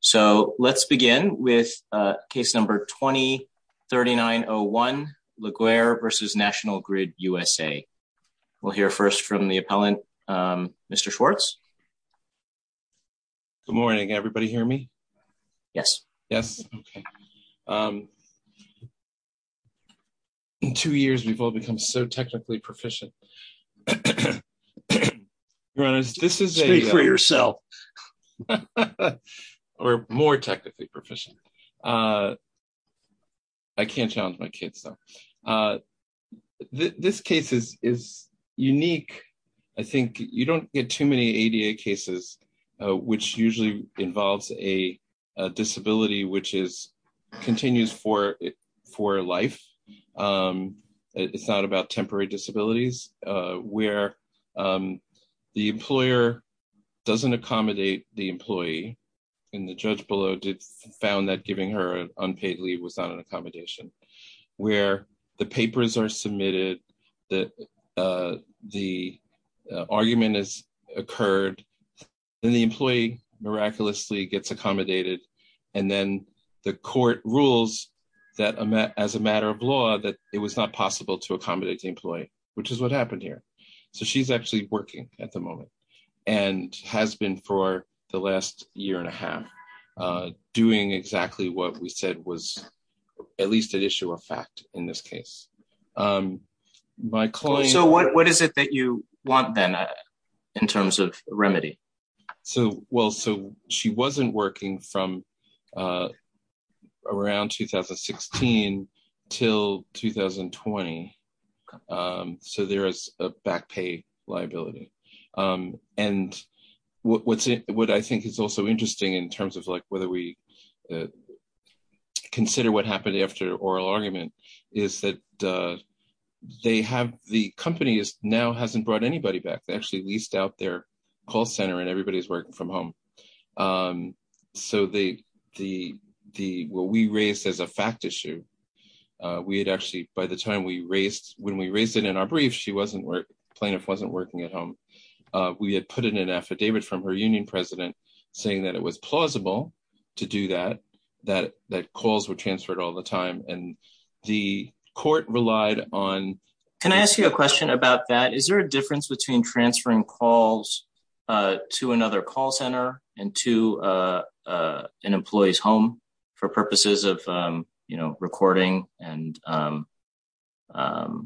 So let's begin with case number 20-3901, Laguerre v. National Grid USA. We'll hear first from the appellant, Mr. Schwartz. Good morning. Everybody hear me? Yes. Yes. Okay. In two years, we've all become so technically proficient. Your Honor, this is- Speak for yourself. Or more technically proficient. I can't challenge my kids, though. This case is unique. I think you don't get too many ADA cases, which usually involves a disability which continues for life. It's not about temporary disabilities, where the employer doesn't accommodate the employee, and the judge below found that giving her an unpaid leave was not an accommodation, where the papers are submitted, the argument has occurred, then the employee miraculously gets accommodated, and then the court rules as a matter of law that it was not possible to accommodate the employee, which is what happened here. She's actually working at the moment, and has been for the last year and a half, doing exactly what we said was at least an issue of fact in this case. What is it that you want, then, in terms of remedy? Well, she wasn't working from around 2016 until 2020, so there is a back pay liability. What I think is also interesting, in terms of whether we consider what happened after oral argument, is that the company now hasn't brought anybody back. They actually leased out their call center, and everybody's working from home. What we raised as a fact issue, we had actually, by the time we raised it in our brief, plaintiff wasn't working at home. We had put in an affidavit from her union president saying that it was plausible to do that, that calls were transferred all the time, and the court relied on... Can I ask you a question about that? Is there a difference between transferring calls to another call center and to an employee's home for purposes of recording? I don't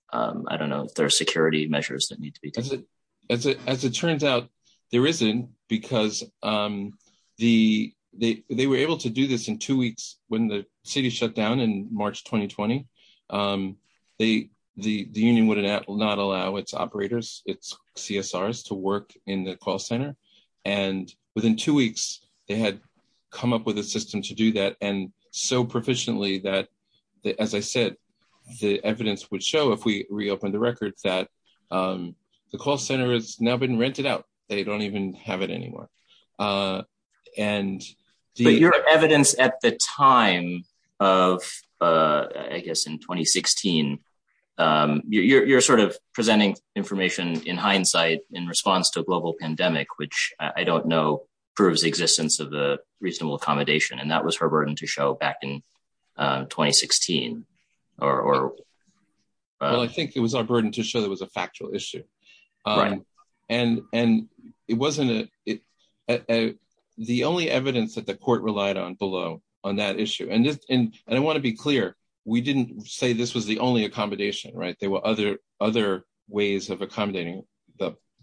know if there are security measures that need to be done. As it turns out, there isn't, because they were able to do this in two weeks when the city shut down in March 2020. The union would not allow its operators, its CSRs, to work in the call center. Within two weeks, they had come up with a system to do that, and so proficiently that, as I said, the evidence would show if we reopened the records that the call center has now been rented out. They don't even have it anymore. But your evidence at the time of, I guess, in 2016, you're sort of presenting information in hindsight in response to a global pandemic, which I don't know proves the existence of the reasonable accommodation, and that was her burden to show back in 2016. Well, I think it was our burden to show that it was a factual issue. The only evidence that the court relied on below on that issue, and I want to be clear, we didn't say this was the only accommodation, right? There were other ways of accommodating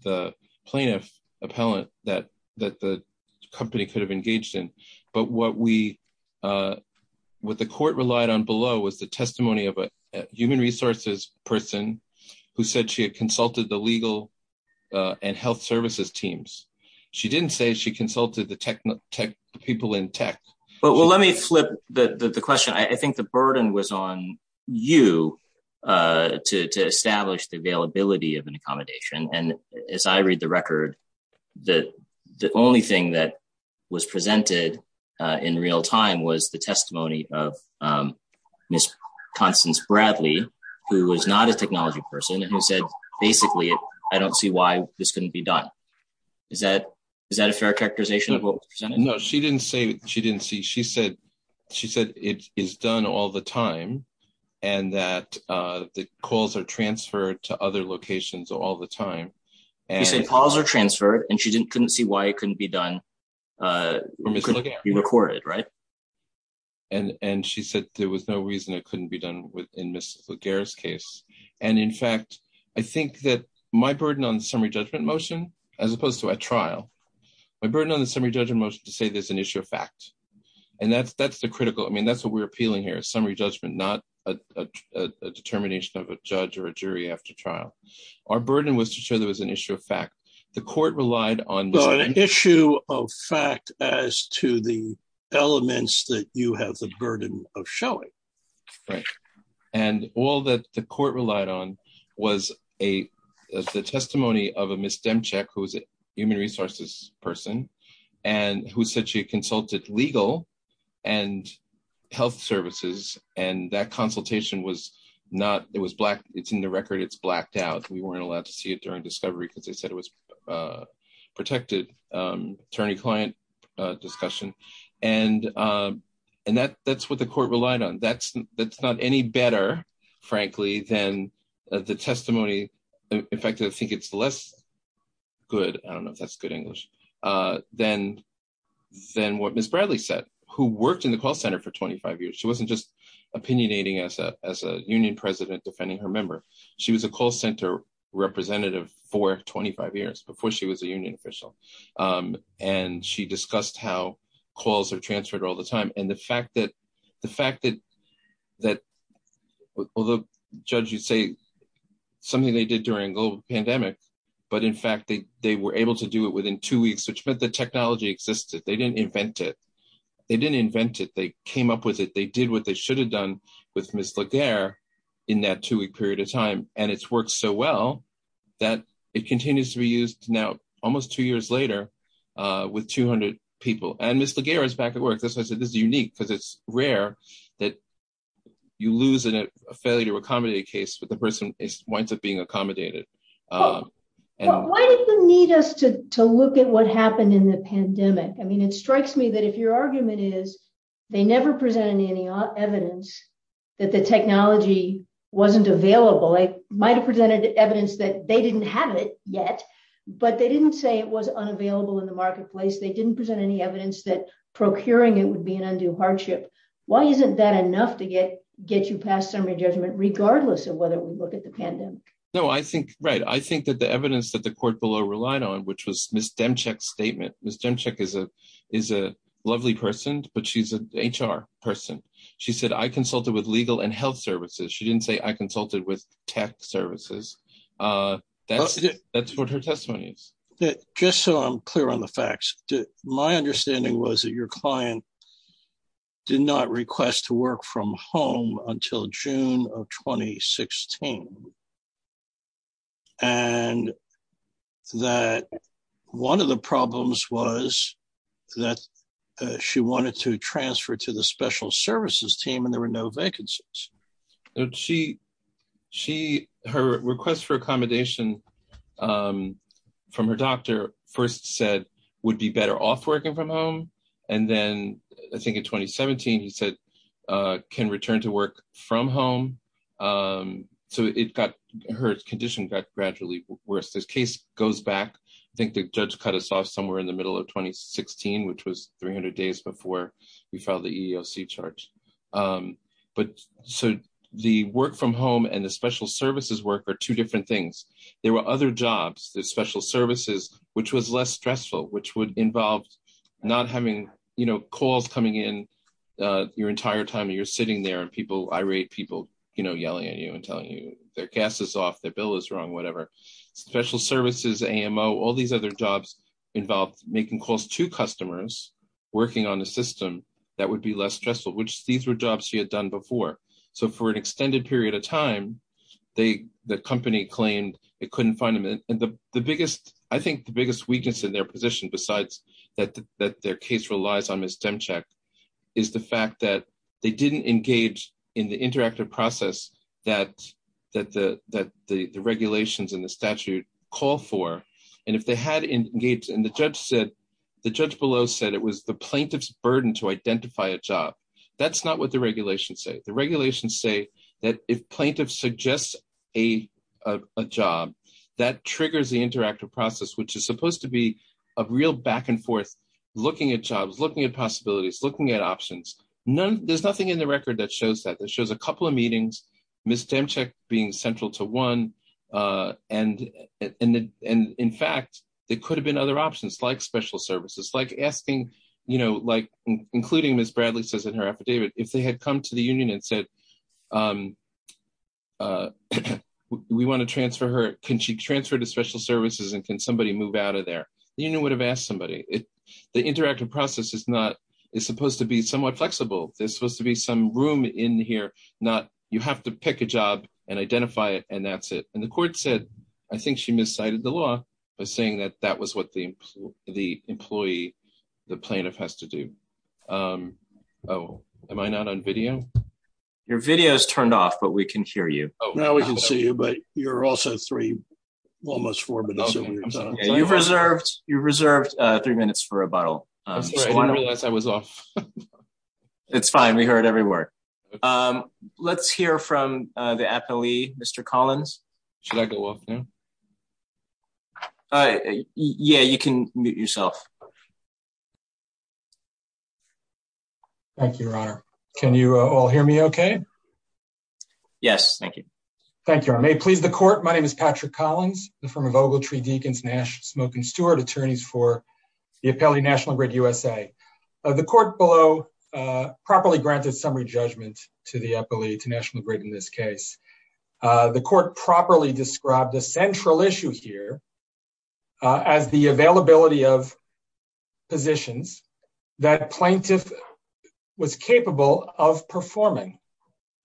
the plaintiff appellant that the company could have engaged in, but what the court relied on was the testimony of a human resources person who said she had consulted the legal and health services teams. She didn't say she consulted the people in tech. Well, let me flip the question. I think the burden was on you to establish the availability of an accommodation, and as I read the record, the only thing that was presented in real time was the testimony of Ms. Constance Bradley, who was not a technology person, and who said, basically, I don't see why this couldn't be done. Is that a fair characterization of what was presented? No, she didn't say she didn't see. She said it is done all the time, and that the calls are transferred to other locations all the time. She said calls are transferred, and she couldn't see why it couldn't be done, couldn't be recorded, right? And she said there was no reason it couldn't be done in Ms. Laguerre's case, and in fact, I think that my burden on the summary judgment motion, as opposed to a trial, my burden on the summary judgment motion to say there's an issue of fact, and that's the critical, I mean, that's what we're appealing here, summary judgment, not a determination of a judge or a jury after trial. Our burden was to show there was an issue of fact. The court relied on... An issue of fact as to the elements that you have the burden of showing. Right, and all that the court relied on was a testimony of a Ms. Demchek, who's a human resources person, and who said she consulted legal and health services, and that consultation was not, it was black, it's in the record, it's blacked out. We weren't allowed to see it during discovery because they said it was protected, attorney-client discussion, and that's what the court relied on. That's not any better, frankly, than the testimony, in fact, I think it's less good, I don't know if that's good English, than what Ms. Bradley said, who worked in the call center for 25 years. She wasn't just opinionating as a union president defending her member, she was a call center representative for 25 years before she was a union official, and she discussed how calls are transferred all the time. And the fact that, although judge you say something they did during global pandemic, but in fact they were able to do it within two weeks, which meant the technology existed, they didn't invent it, they didn't invent it, they came up with it, they did what they should have done with Ms. Laguerre in that two-week period of time, and it's worked so well that it continues to be used now almost two years later with 200 people. And Ms. Laguerre is back at work, that's why I said this is unique, because it's rare that you lose in a failure to accommodate case, but the person winds up being accommodated. Why did they need us to look at what happened in the pandemic? I mean, it strikes me that if your argument is they never presented any evidence that the technology wasn't available, it might have presented evidence that they didn't have it yet, but they didn't say it was unavailable in the marketplace, they didn't present any evidence that procuring it would be an undue hardship. Why isn't that enough to get you past summary judgment, regardless of whether we look at the pandemic? No, I think, right, I think that the evidence that the court below relied on, which was Ms. Demchik's statement, Ms. Demchik is a lovely person, but she's an HR person. She said, I consulted with legal and health services. She didn't say I consulted with tech services. That's what her testimony is. Just so I'm clear on the facts, my understanding was that your client did not request to work from home until June of 2016, and that one of the problems was that she wanted to transfer to the special services team and there were no vacancies. Her request for accommodation from her doctor first said would be better off working from home. And then I think in 2017, he said, can return to work from home. So it got, her condition got gradually worse. This case goes back, I think the judge cut us off somewhere in the middle of 2016, which was 300 days before we filed the EEOC charge. But so the work from home and the special services work are two different things. There were other jobs, the special services, which was less stressful, which would involve not having, you know, calls coming in your entire time and you're sitting there and people, irate people, you know, yelling at you and telling you their gas is off, their bill is wrong, whatever. Special services, AMO, all these other jobs involved making calls to customers working on a system that would be less stressful, which these were jobs she had done before. So for an extended period of time, the company claimed it couldn't find them. And the biggest, I think the biggest weakness in their position, besides that their case relies on Ms. Demchak, is the fact that they didn't engage in the interactive process that the regulations and the statute call for. And if they had engaged, and the judge said, the judge below said it was plaintiff's burden to identify a job. That's not what the regulations say. The regulations say that if plaintiff suggests a job, that triggers the interactive process, which is supposed to be a real back and forth, looking at jobs, looking at possibilities, looking at options. There's nothing in the record that shows that, that shows a couple of meetings, Ms. Demchak being central to one. And in fact, there could have been other options like special services, like asking, you know, like, including Ms. Bradley says in her affidavit, if they had come to the union and said, we want to transfer her, can she transfer to special services? And can somebody move out of there? The union would have asked somebody, the interactive process is not, it's supposed to be somewhat flexible. There's supposed to be some room in here, not, you have to pick a job and identify it. And that's it. And the court said, I think she miscited the law by saying that that was what the employee, the plaintiff has to do. Oh, am I not on video? Your video is turned off, but we can hear you. Now we can see you, but you're also three, almost four minutes. You've reserved three minutes for rebuttal. It's fine, we heard every word. Let's hear from the appellee, Mr. Collins. Should I go up now? Uh, yeah, you can mute yourself. Thank you, Your Honor. Can you all hear me okay? Yes, thank you. Thank you, Your Honor. May it please the court, my name is Patrick Collins, the firm of Ogletree, Deakins, Nash, Smokin, Stewart, attorneys for the appellee National Grid USA. The court below, uh, properly granted summary judgment to the appellee, to National Grid in this case. The court properly described the central issue here as the availability of positions that plaintiff was capable of performing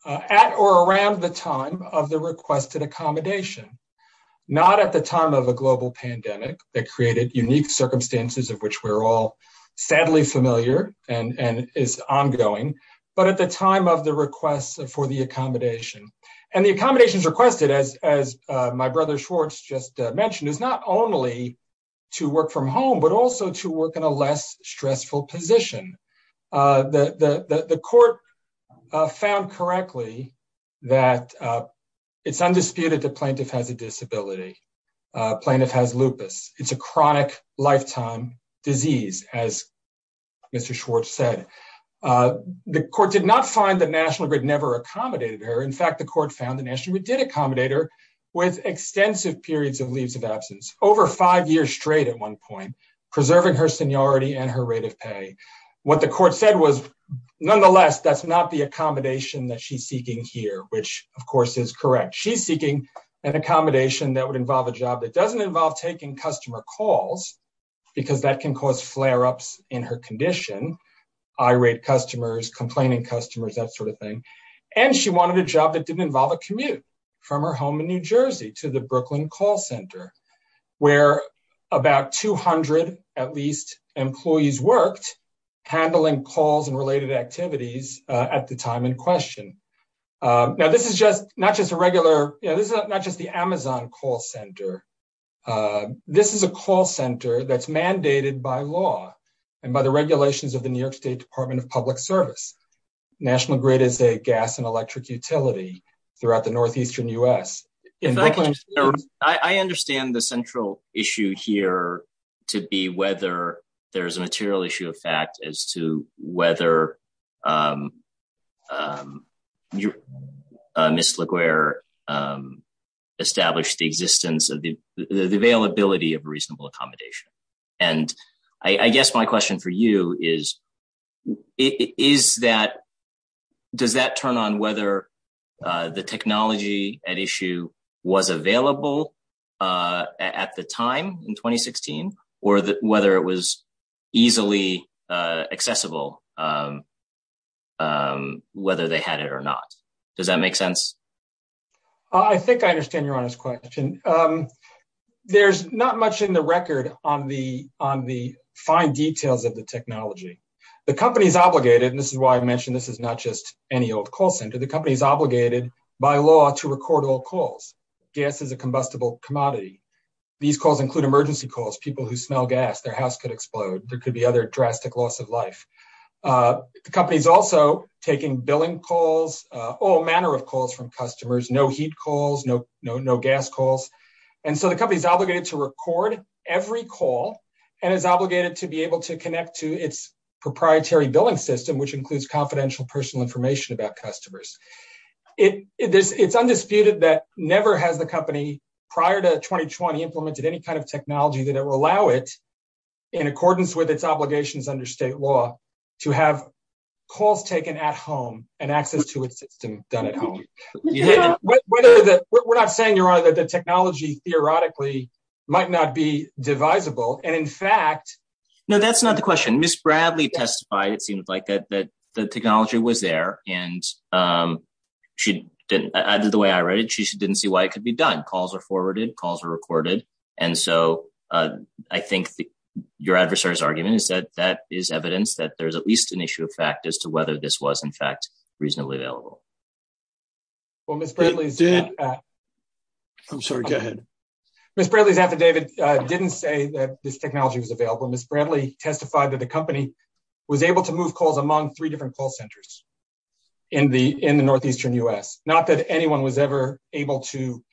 at or around the time of the requested accommodation, not at the time of a global pandemic that created unique circumstances of which we're all sadly familiar and is ongoing, but at the time of the request for the accommodation and the accommodations requested, as, as, uh, my brother Schwartz just mentioned is not only to work from home, but also to work in a less stressful position. Uh, the, the, the, the court, uh, found correctly that, uh, it's undisputed that plaintiff has a disability. Uh, plaintiff has lupus. It's a chronic lifetime disease. As Mr. Schwartz said, uh, the court did not find that National Grid never accommodated her. In fact, the court found the National Grid did accommodate her with extensive periods of leaves of absence over five years straight at one point, preserving her seniority and her rate of pay. What the court said was nonetheless, that's not the accommodation that she's seeking here, which of course is correct. She's seeking an accommodation that would involve a job that doesn't involve taking customer calls because that can cause flare ups in her condition, irate customers, complaining customers, that sort of thing. And she wanted a job that didn't involve a commute from her home in New Jersey to the Brooklyn call center where about 200, at least, employees worked handling calls and related activities, uh, at the time in question. Uh, now this is just not just a regular, you know, this is not just the Amazon call center. Uh, this is a call center that's mandated by law and by the regulations of the New York State Department of Public Service. National Grid is a gas and electric utility throughout the Northeastern U.S. If I can, I understand the central issue here to be whether there's a the availability of reasonable accommodation. And I guess my question for you is, is that, does that turn on whether, uh, the technology at issue was available, uh, at the time in 2016, or whether it was easily, uh, accessible, um, um, whether they had it or not. Does that make sense? I think I understand your honest question. Um, there's not much in the record on the, on the fine details of the technology. The company's obligated, and this is why I mentioned this is not just any old call center. The company's obligated by law to record all calls. Gas is a combustible commodity. These calls include emergency calls, people who smell gas, their house could explode. There could be other drastic loss of life. Uh, the company's also taking billing calls, uh, all manner of calls from customers, no heat calls, no, no, no gas calls. And so the company is obligated to record every call and is obligated to be able to connect to its proprietary billing system, which includes confidential personal information about customers. It, it, it's, it's undisputed that never has the company prior to 2020 implemented any kind of technology that will allow it in accordance with its obligations under state law to have calls taken at home and access to its system done at home. Whether the, we're not saying your honor that the technology theoretically might not be divisible. And in fact, no, that's not the question. Ms. Bradley testified. It seemed like that, that the technology was there and, um, she didn't, I did the way I read it. She didn't see why it could be done. Calls are forwarded, calls are recorded. And so, uh, I think your adversary's argument is that that is evidence that there's at least an issue of fact as to whether this was in fact reasonably available. Well, Ms. Bradley did. I'm sorry. Ms. Bradley's affidavit didn't say that this technology was available. Ms. Bradley testified that the company was able to move calls among three different call centers in the, in the Northeastern U S not that anyone was ever able to,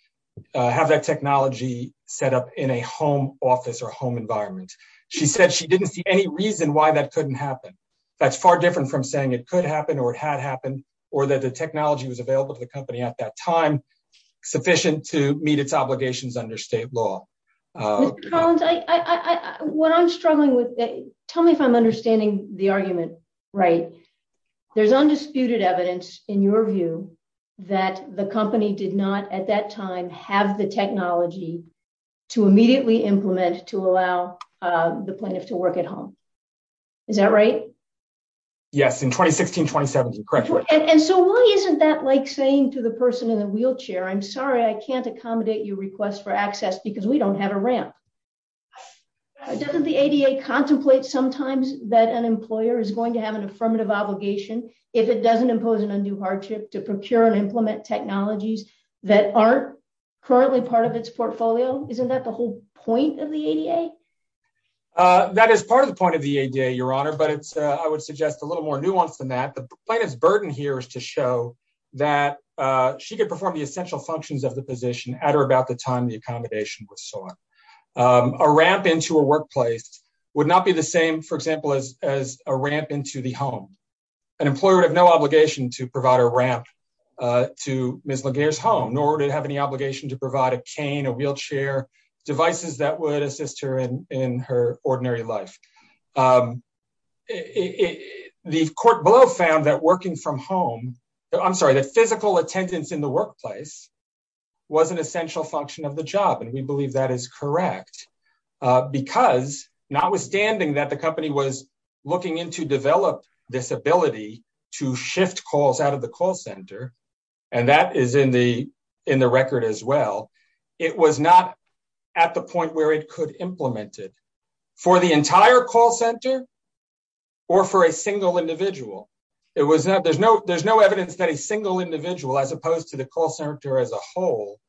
uh, have that technology set up in a home office or home environment. She said she didn't see any reason why that couldn't happen. That's far different from saying it could happen or it had happened or that the technology was available to the company at that time, sufficient to meet its obligations under state law. What I'm struggling with, tell me if I'm understanding the argument, right. There's undisputed evidence in your view that the company did not at that time have the technology to immediately implement, to allow the plaintiff to work at home. Is that right? Yes. In 2016, 2017. Correct. And so why isn't that like saying to the person in the wheelchair, I'm sorry, I can't accommodate your request for access because we don't have a ramp. Doesn't the ADA contemplate sometimes that an employer is going to have an affirmative obligation. If it doesn't impose an undue hardship to procure and implement technologies that aren't currently part of its portfolio, isn't that the whole point of the ADA? Uh, that is part of the point of the ADA, your honor, but it's, uh, I would suggest a little more nuanced than that. The plaintiff's burden here is to show that, uh, she could perform the essential functions of the position at or about the time the accommodation was sought. Um, a ramp into a workplace would not be the same, for example, as, as a ramp into the home. An employer would have no obligation to provide a ramp, uh, to Ms. Laguerre's home, nor did have any obligation to provide a cane, a wheelchair, devices that would assist her in her ordinary life. Um, the court below found that working from home, I'm sorry, that physical attendance in the workplace was an essential function of the job. And we believe that is correct. Uh, because notwithstanding that the company was looking into develop this ability to shift calls out of the call center, and that is in the, in the record as well, it was not at the point where it could implement it for the entire call center or for a single individual. It was not, there's no, there's no evidence that a single individual, as opposed to the call center as a whole,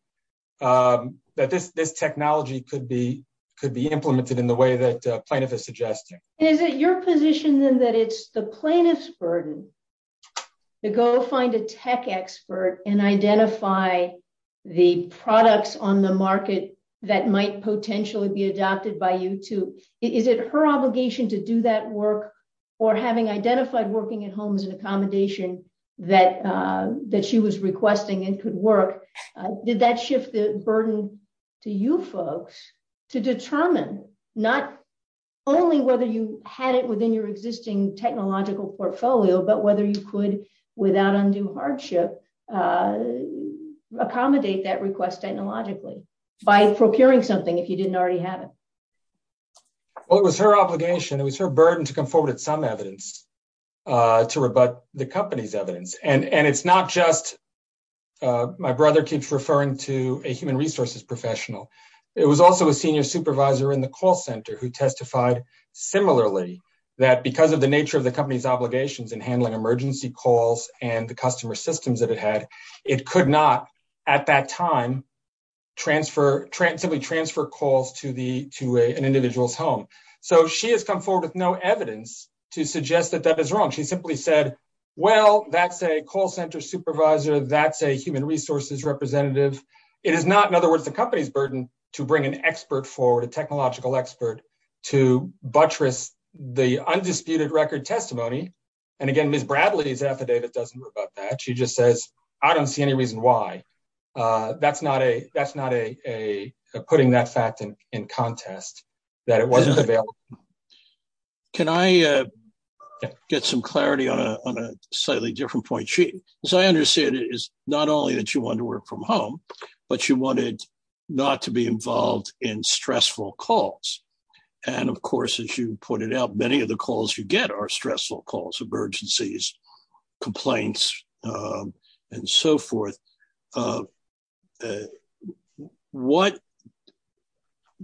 um, that this, this technology could be, could be implemented in the way that a plaintiff is suggesting. Is it your position then that it's the plaintiff's burden to go find a tech expert and identify the products on the market that might potentially be adopted by you too? Is it her obligation to do that work or having identified working at home as an accommodation that, uh, that she was able to do that work? And I'm wondering if you folks to determine not only whether you had it within your existing technological portfolio, but whether you could, without undue hardship, accommodate that request technologically by procuring something, if you didn't already have it. Well, it was her obligation. It was her burden to come forward at some evidence, uh, to rebut the company's evidence. And, and it's not just, uh, my brother keeps referring to a human resources professional. It was also a senior supervisor in the call center who testified similarly that because of the nature of the company's obligations in handling emergency calls and the customer systems that it had, it could not at that time transfer, simply transfer calls to the, to an individual's home. So she has come forward with no evidence to suggest that that is wrong. She simply said, well, that's a call center supervisor. That's a human resources representative. It is not, in other words, the company's burden to bring an expert forward, a technological expert to buttress the undisputed record testimony. And again, Ms. Bradley's affidavit doesn't go about that. She just says, I don't see any reason why, uh, that's not a, that's not a, a, a putting that fact in, in contest that it wasn't available. Can I, uh, get some clarity on a, on a slightly different point? She, as I understand it is not only that you want to work from home, but you wanted not to be involved in stressful calls. And of course, as you pointed out, many of the calls you get are stressful calls, emergencies, complaints, um, and so forth. Uh, uh, what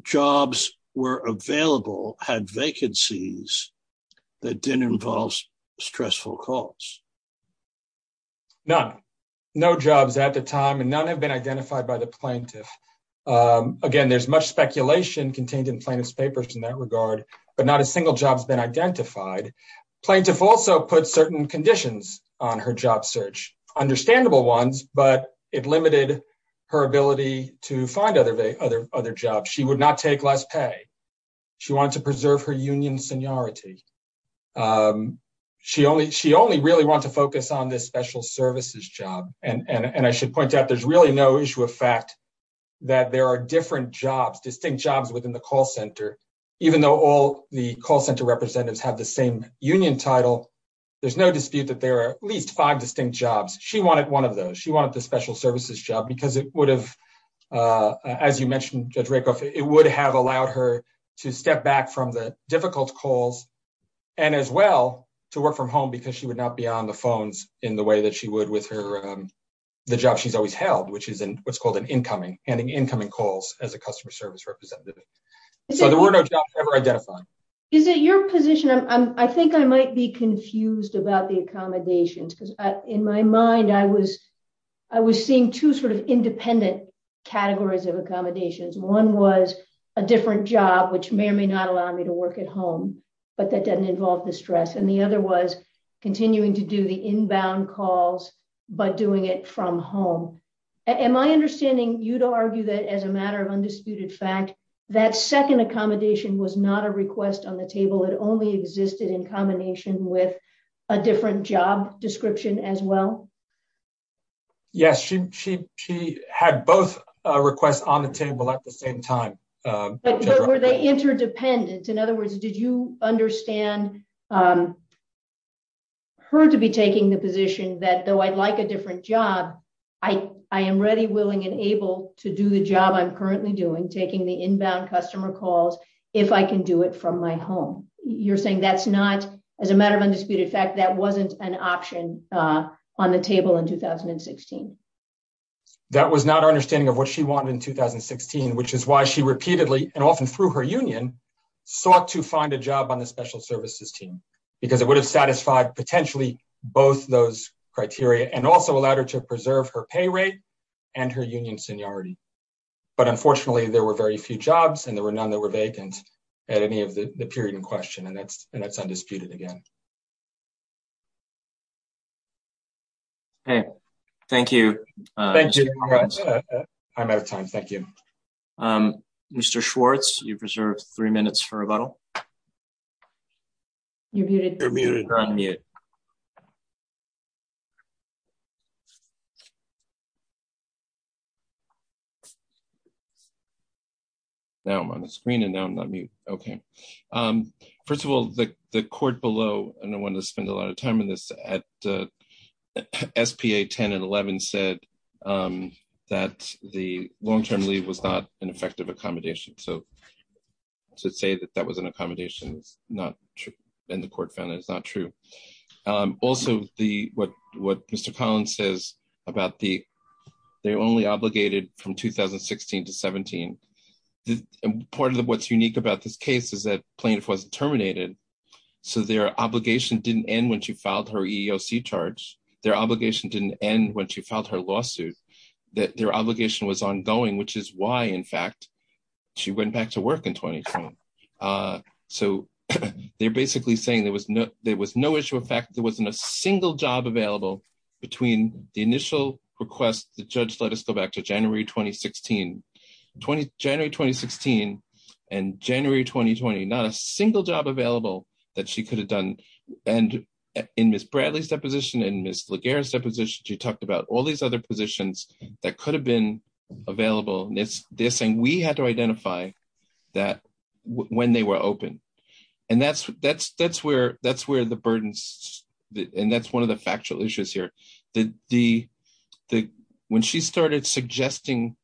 jobs were available had vacancies that didn't involve stressful calls? None, no jobs at the time. And none have been identified by the plaintiff. Um, again, there's much speculation contained in plaintiff's papers in that regard, but not a single job has been identified. Plaintiff also put certain conditions on her job search, understandable ones, but it limited her ability to find other, other, other jobs. She would not take less pay. She wanted to preserve her union seniority. Um, she only, she only really want to focus on this special services job. And, and, and I should point out, there's really no issue of fact that there are different jobs, distinct jobs within the call center, even though all the call center representatives have the same union title. There's no dispute that there are at least five distinct jobs. She wanted one of those. She mentioned Judge Rakoff, it would have allowed her to step back from the difficult calls and as well to work from home because she would not be on the phones in the way that she would with her, um, the job she's always held, which is in what's called an incoming, handing incoming calls as a customer service representative. So there were no jobs ever identified. Is it your position? I'm, I think I might be confused about the accommodations because in my mind, I was, I was seeing two sort of independent categories of accommodations. One was a different job, which may or may not allow me to work at home, but that doesn't involve the stress. And the other was continuing to do the inbound calls, but doing it from home. Am I understanding you to argue that as a matter of undisputed fact, that second accommodation was not a request on the table. It only existed in combination with a different job description as well? Yes, she, she, she had both requests on the table at the same time. Were they interdependent? In other words, did you understand, um, her to be taking the position that though I'd like a different job, I, I am ready, willing and able to do the job I'm currently doing, taking the inbound customer calls, if I can do it from my home, you're saying that's not as a matter of undisputed fact, that wasn't an option, uh, on the table in 2016. That was not our understanding of what she wanted in 2016, which is why she repeatedly and often through her union sought to find a job on the special services team, because it would have satisfied potentially both those criteria and also allowed her to preserve her pay rate and her union seniority. But unfortunately there were very few jobs and there were none that were vacant at any of the period in question. And that's, and that's undisputed again. Okay. Thank you. I'm out of time. Thank you. Um, Mr. Schwartz, you've reserved three minutes for rebuttal. You're muted. Now I'm on the screen and now I'm not mute. Okay. Um, first of all, the, the court below, and I wanted to spend a lot of time in this at, uh, SPA 10 and 11 said, um, that the long-term leave was not an effective accommodation. So to say that that was an accommodation is not true. And the court found that it's not true. Um, also the, what, what Mr. Collins says about the, they only obligated from 2016 to 17. The part of the, what's unique about this case is that plaintiff wasn't terminated. So their obligation didn't end when she filed her EEOC charge, their obligation didn't end when she filed her lawsuit, that their obligation was ongoing, which is why in fact, she went back to work in 2012. Uh, so they're basically saying there was no, there was no effect. There wasn't a single job available between the initial request. The judge let us go back to January, 2016, January, 2016 and January, 2020, not a single job available that she could have done. And in Ms. Bradley's deposition and Ms. Laguerre's deposition, she talked about all these other positions that could have been available. And it's, they're saying we had to identify that when they were open. And that's, that's, that's where, that's where the burdens, and that's one of the factual issues here. The, the, the, when she started suggesting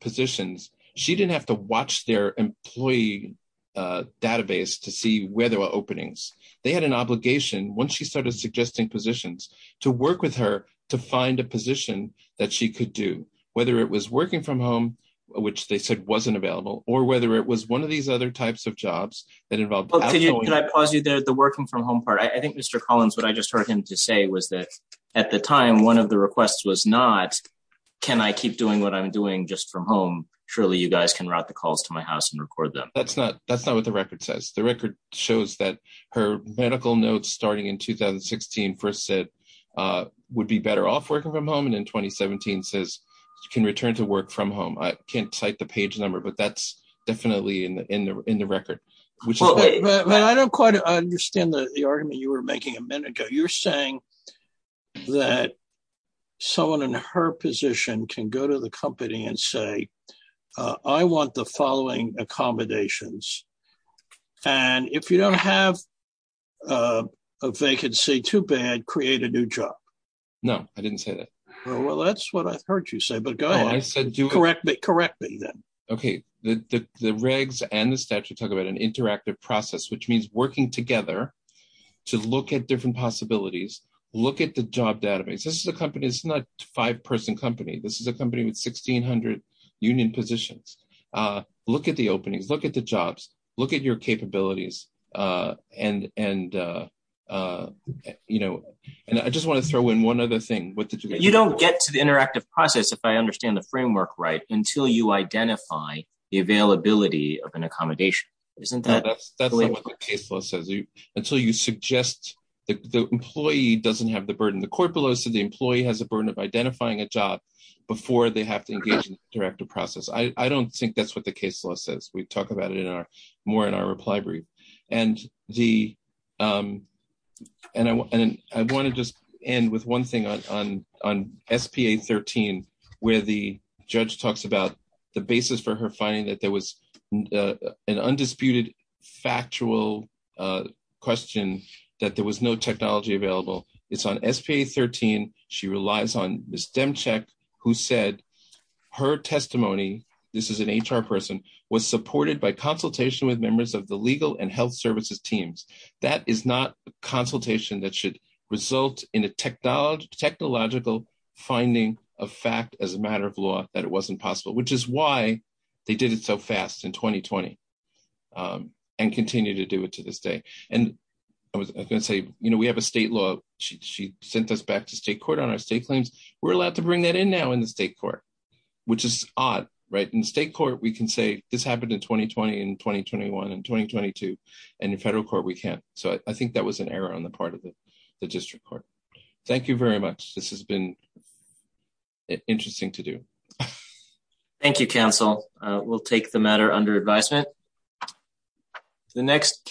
positions, she didn't have to watch their employee, uh, database to see where there were openings. They had an obligation once she started suggesting positions to work with her to find a position that she could do, whether it was working from home, which they said wasn't available or whether it was one of these other types of jobs that involved. Can I pause you the working from home part? I think Mr. Collins, what I just heard him to say was that at the time, one of the requests was not, can I keep doing what I'm doing just from home? Surely you guys can route the calls to my house and record them. That's not, that's not what the record says. The record shows that her medical notes starting in 2016 first said, uh, would be better off working from home. And in 2017 says you can return to work from home. I can't cite the page number, but that's definitely in the, in the, in the record. I don't quite understand the argument you were making a minute ago. You're saying that someone in her position can go to the company and say, uh, I want the following accommodations. And if you don't have, uh, a vacancy too bad, create a new job. No, I didn't say that. Well, that's what I heard you say, but go ahead. Correct me then. Okay. The, the, the regs and the statute talk about an interactive process, which means working together to look at different possibilities. Look at the job database. This is a company, it's not five person company. This is a company with 1600 union positions. Uh, look at the openings, look at the jobs, look at your capabilities. Uh, and, and, uh, uh, you know, and I just want to throw in one other thing. You don't get to the interactive process. If I until you identify the availability of an accommodation, isn't that until you suggest that the employee doesn't have the burden, the court below. So the employee has a burden of identifying a job before they have to engage in the director process. I don't think that's what the case law says. We've talked about it in our more in our reply brief and the, um, with one thing on, on, on SPA 13, where the judge talks about the basis for her finding that there was, uh, an undisputed factual, uh, question that there was no technology available. It's on SPA 13. She relies on the STEM check who said her testimony, this is an HR person was supported by consultation with members of the legal and health services teams. That is not a consultation that should result in a technology technological finding a fact as a matter of law, that it wasn't possible, which is why they did it so fast in 2020, um, and continue to do it to this day. And I was going to say, you know, we have a state law. She, she sent us back to state court on our state claims. We're allowed to bring that in now in the state court, which is odd, right? In state court, we can say this happened in 2020 and 2021 and 2022 and in federal court, we can't. So I think that was an error on the part of the district court. Thank you very much. This has been interesting to do. Thank you. Council. Uh, we'll take the matter under advisement. The next.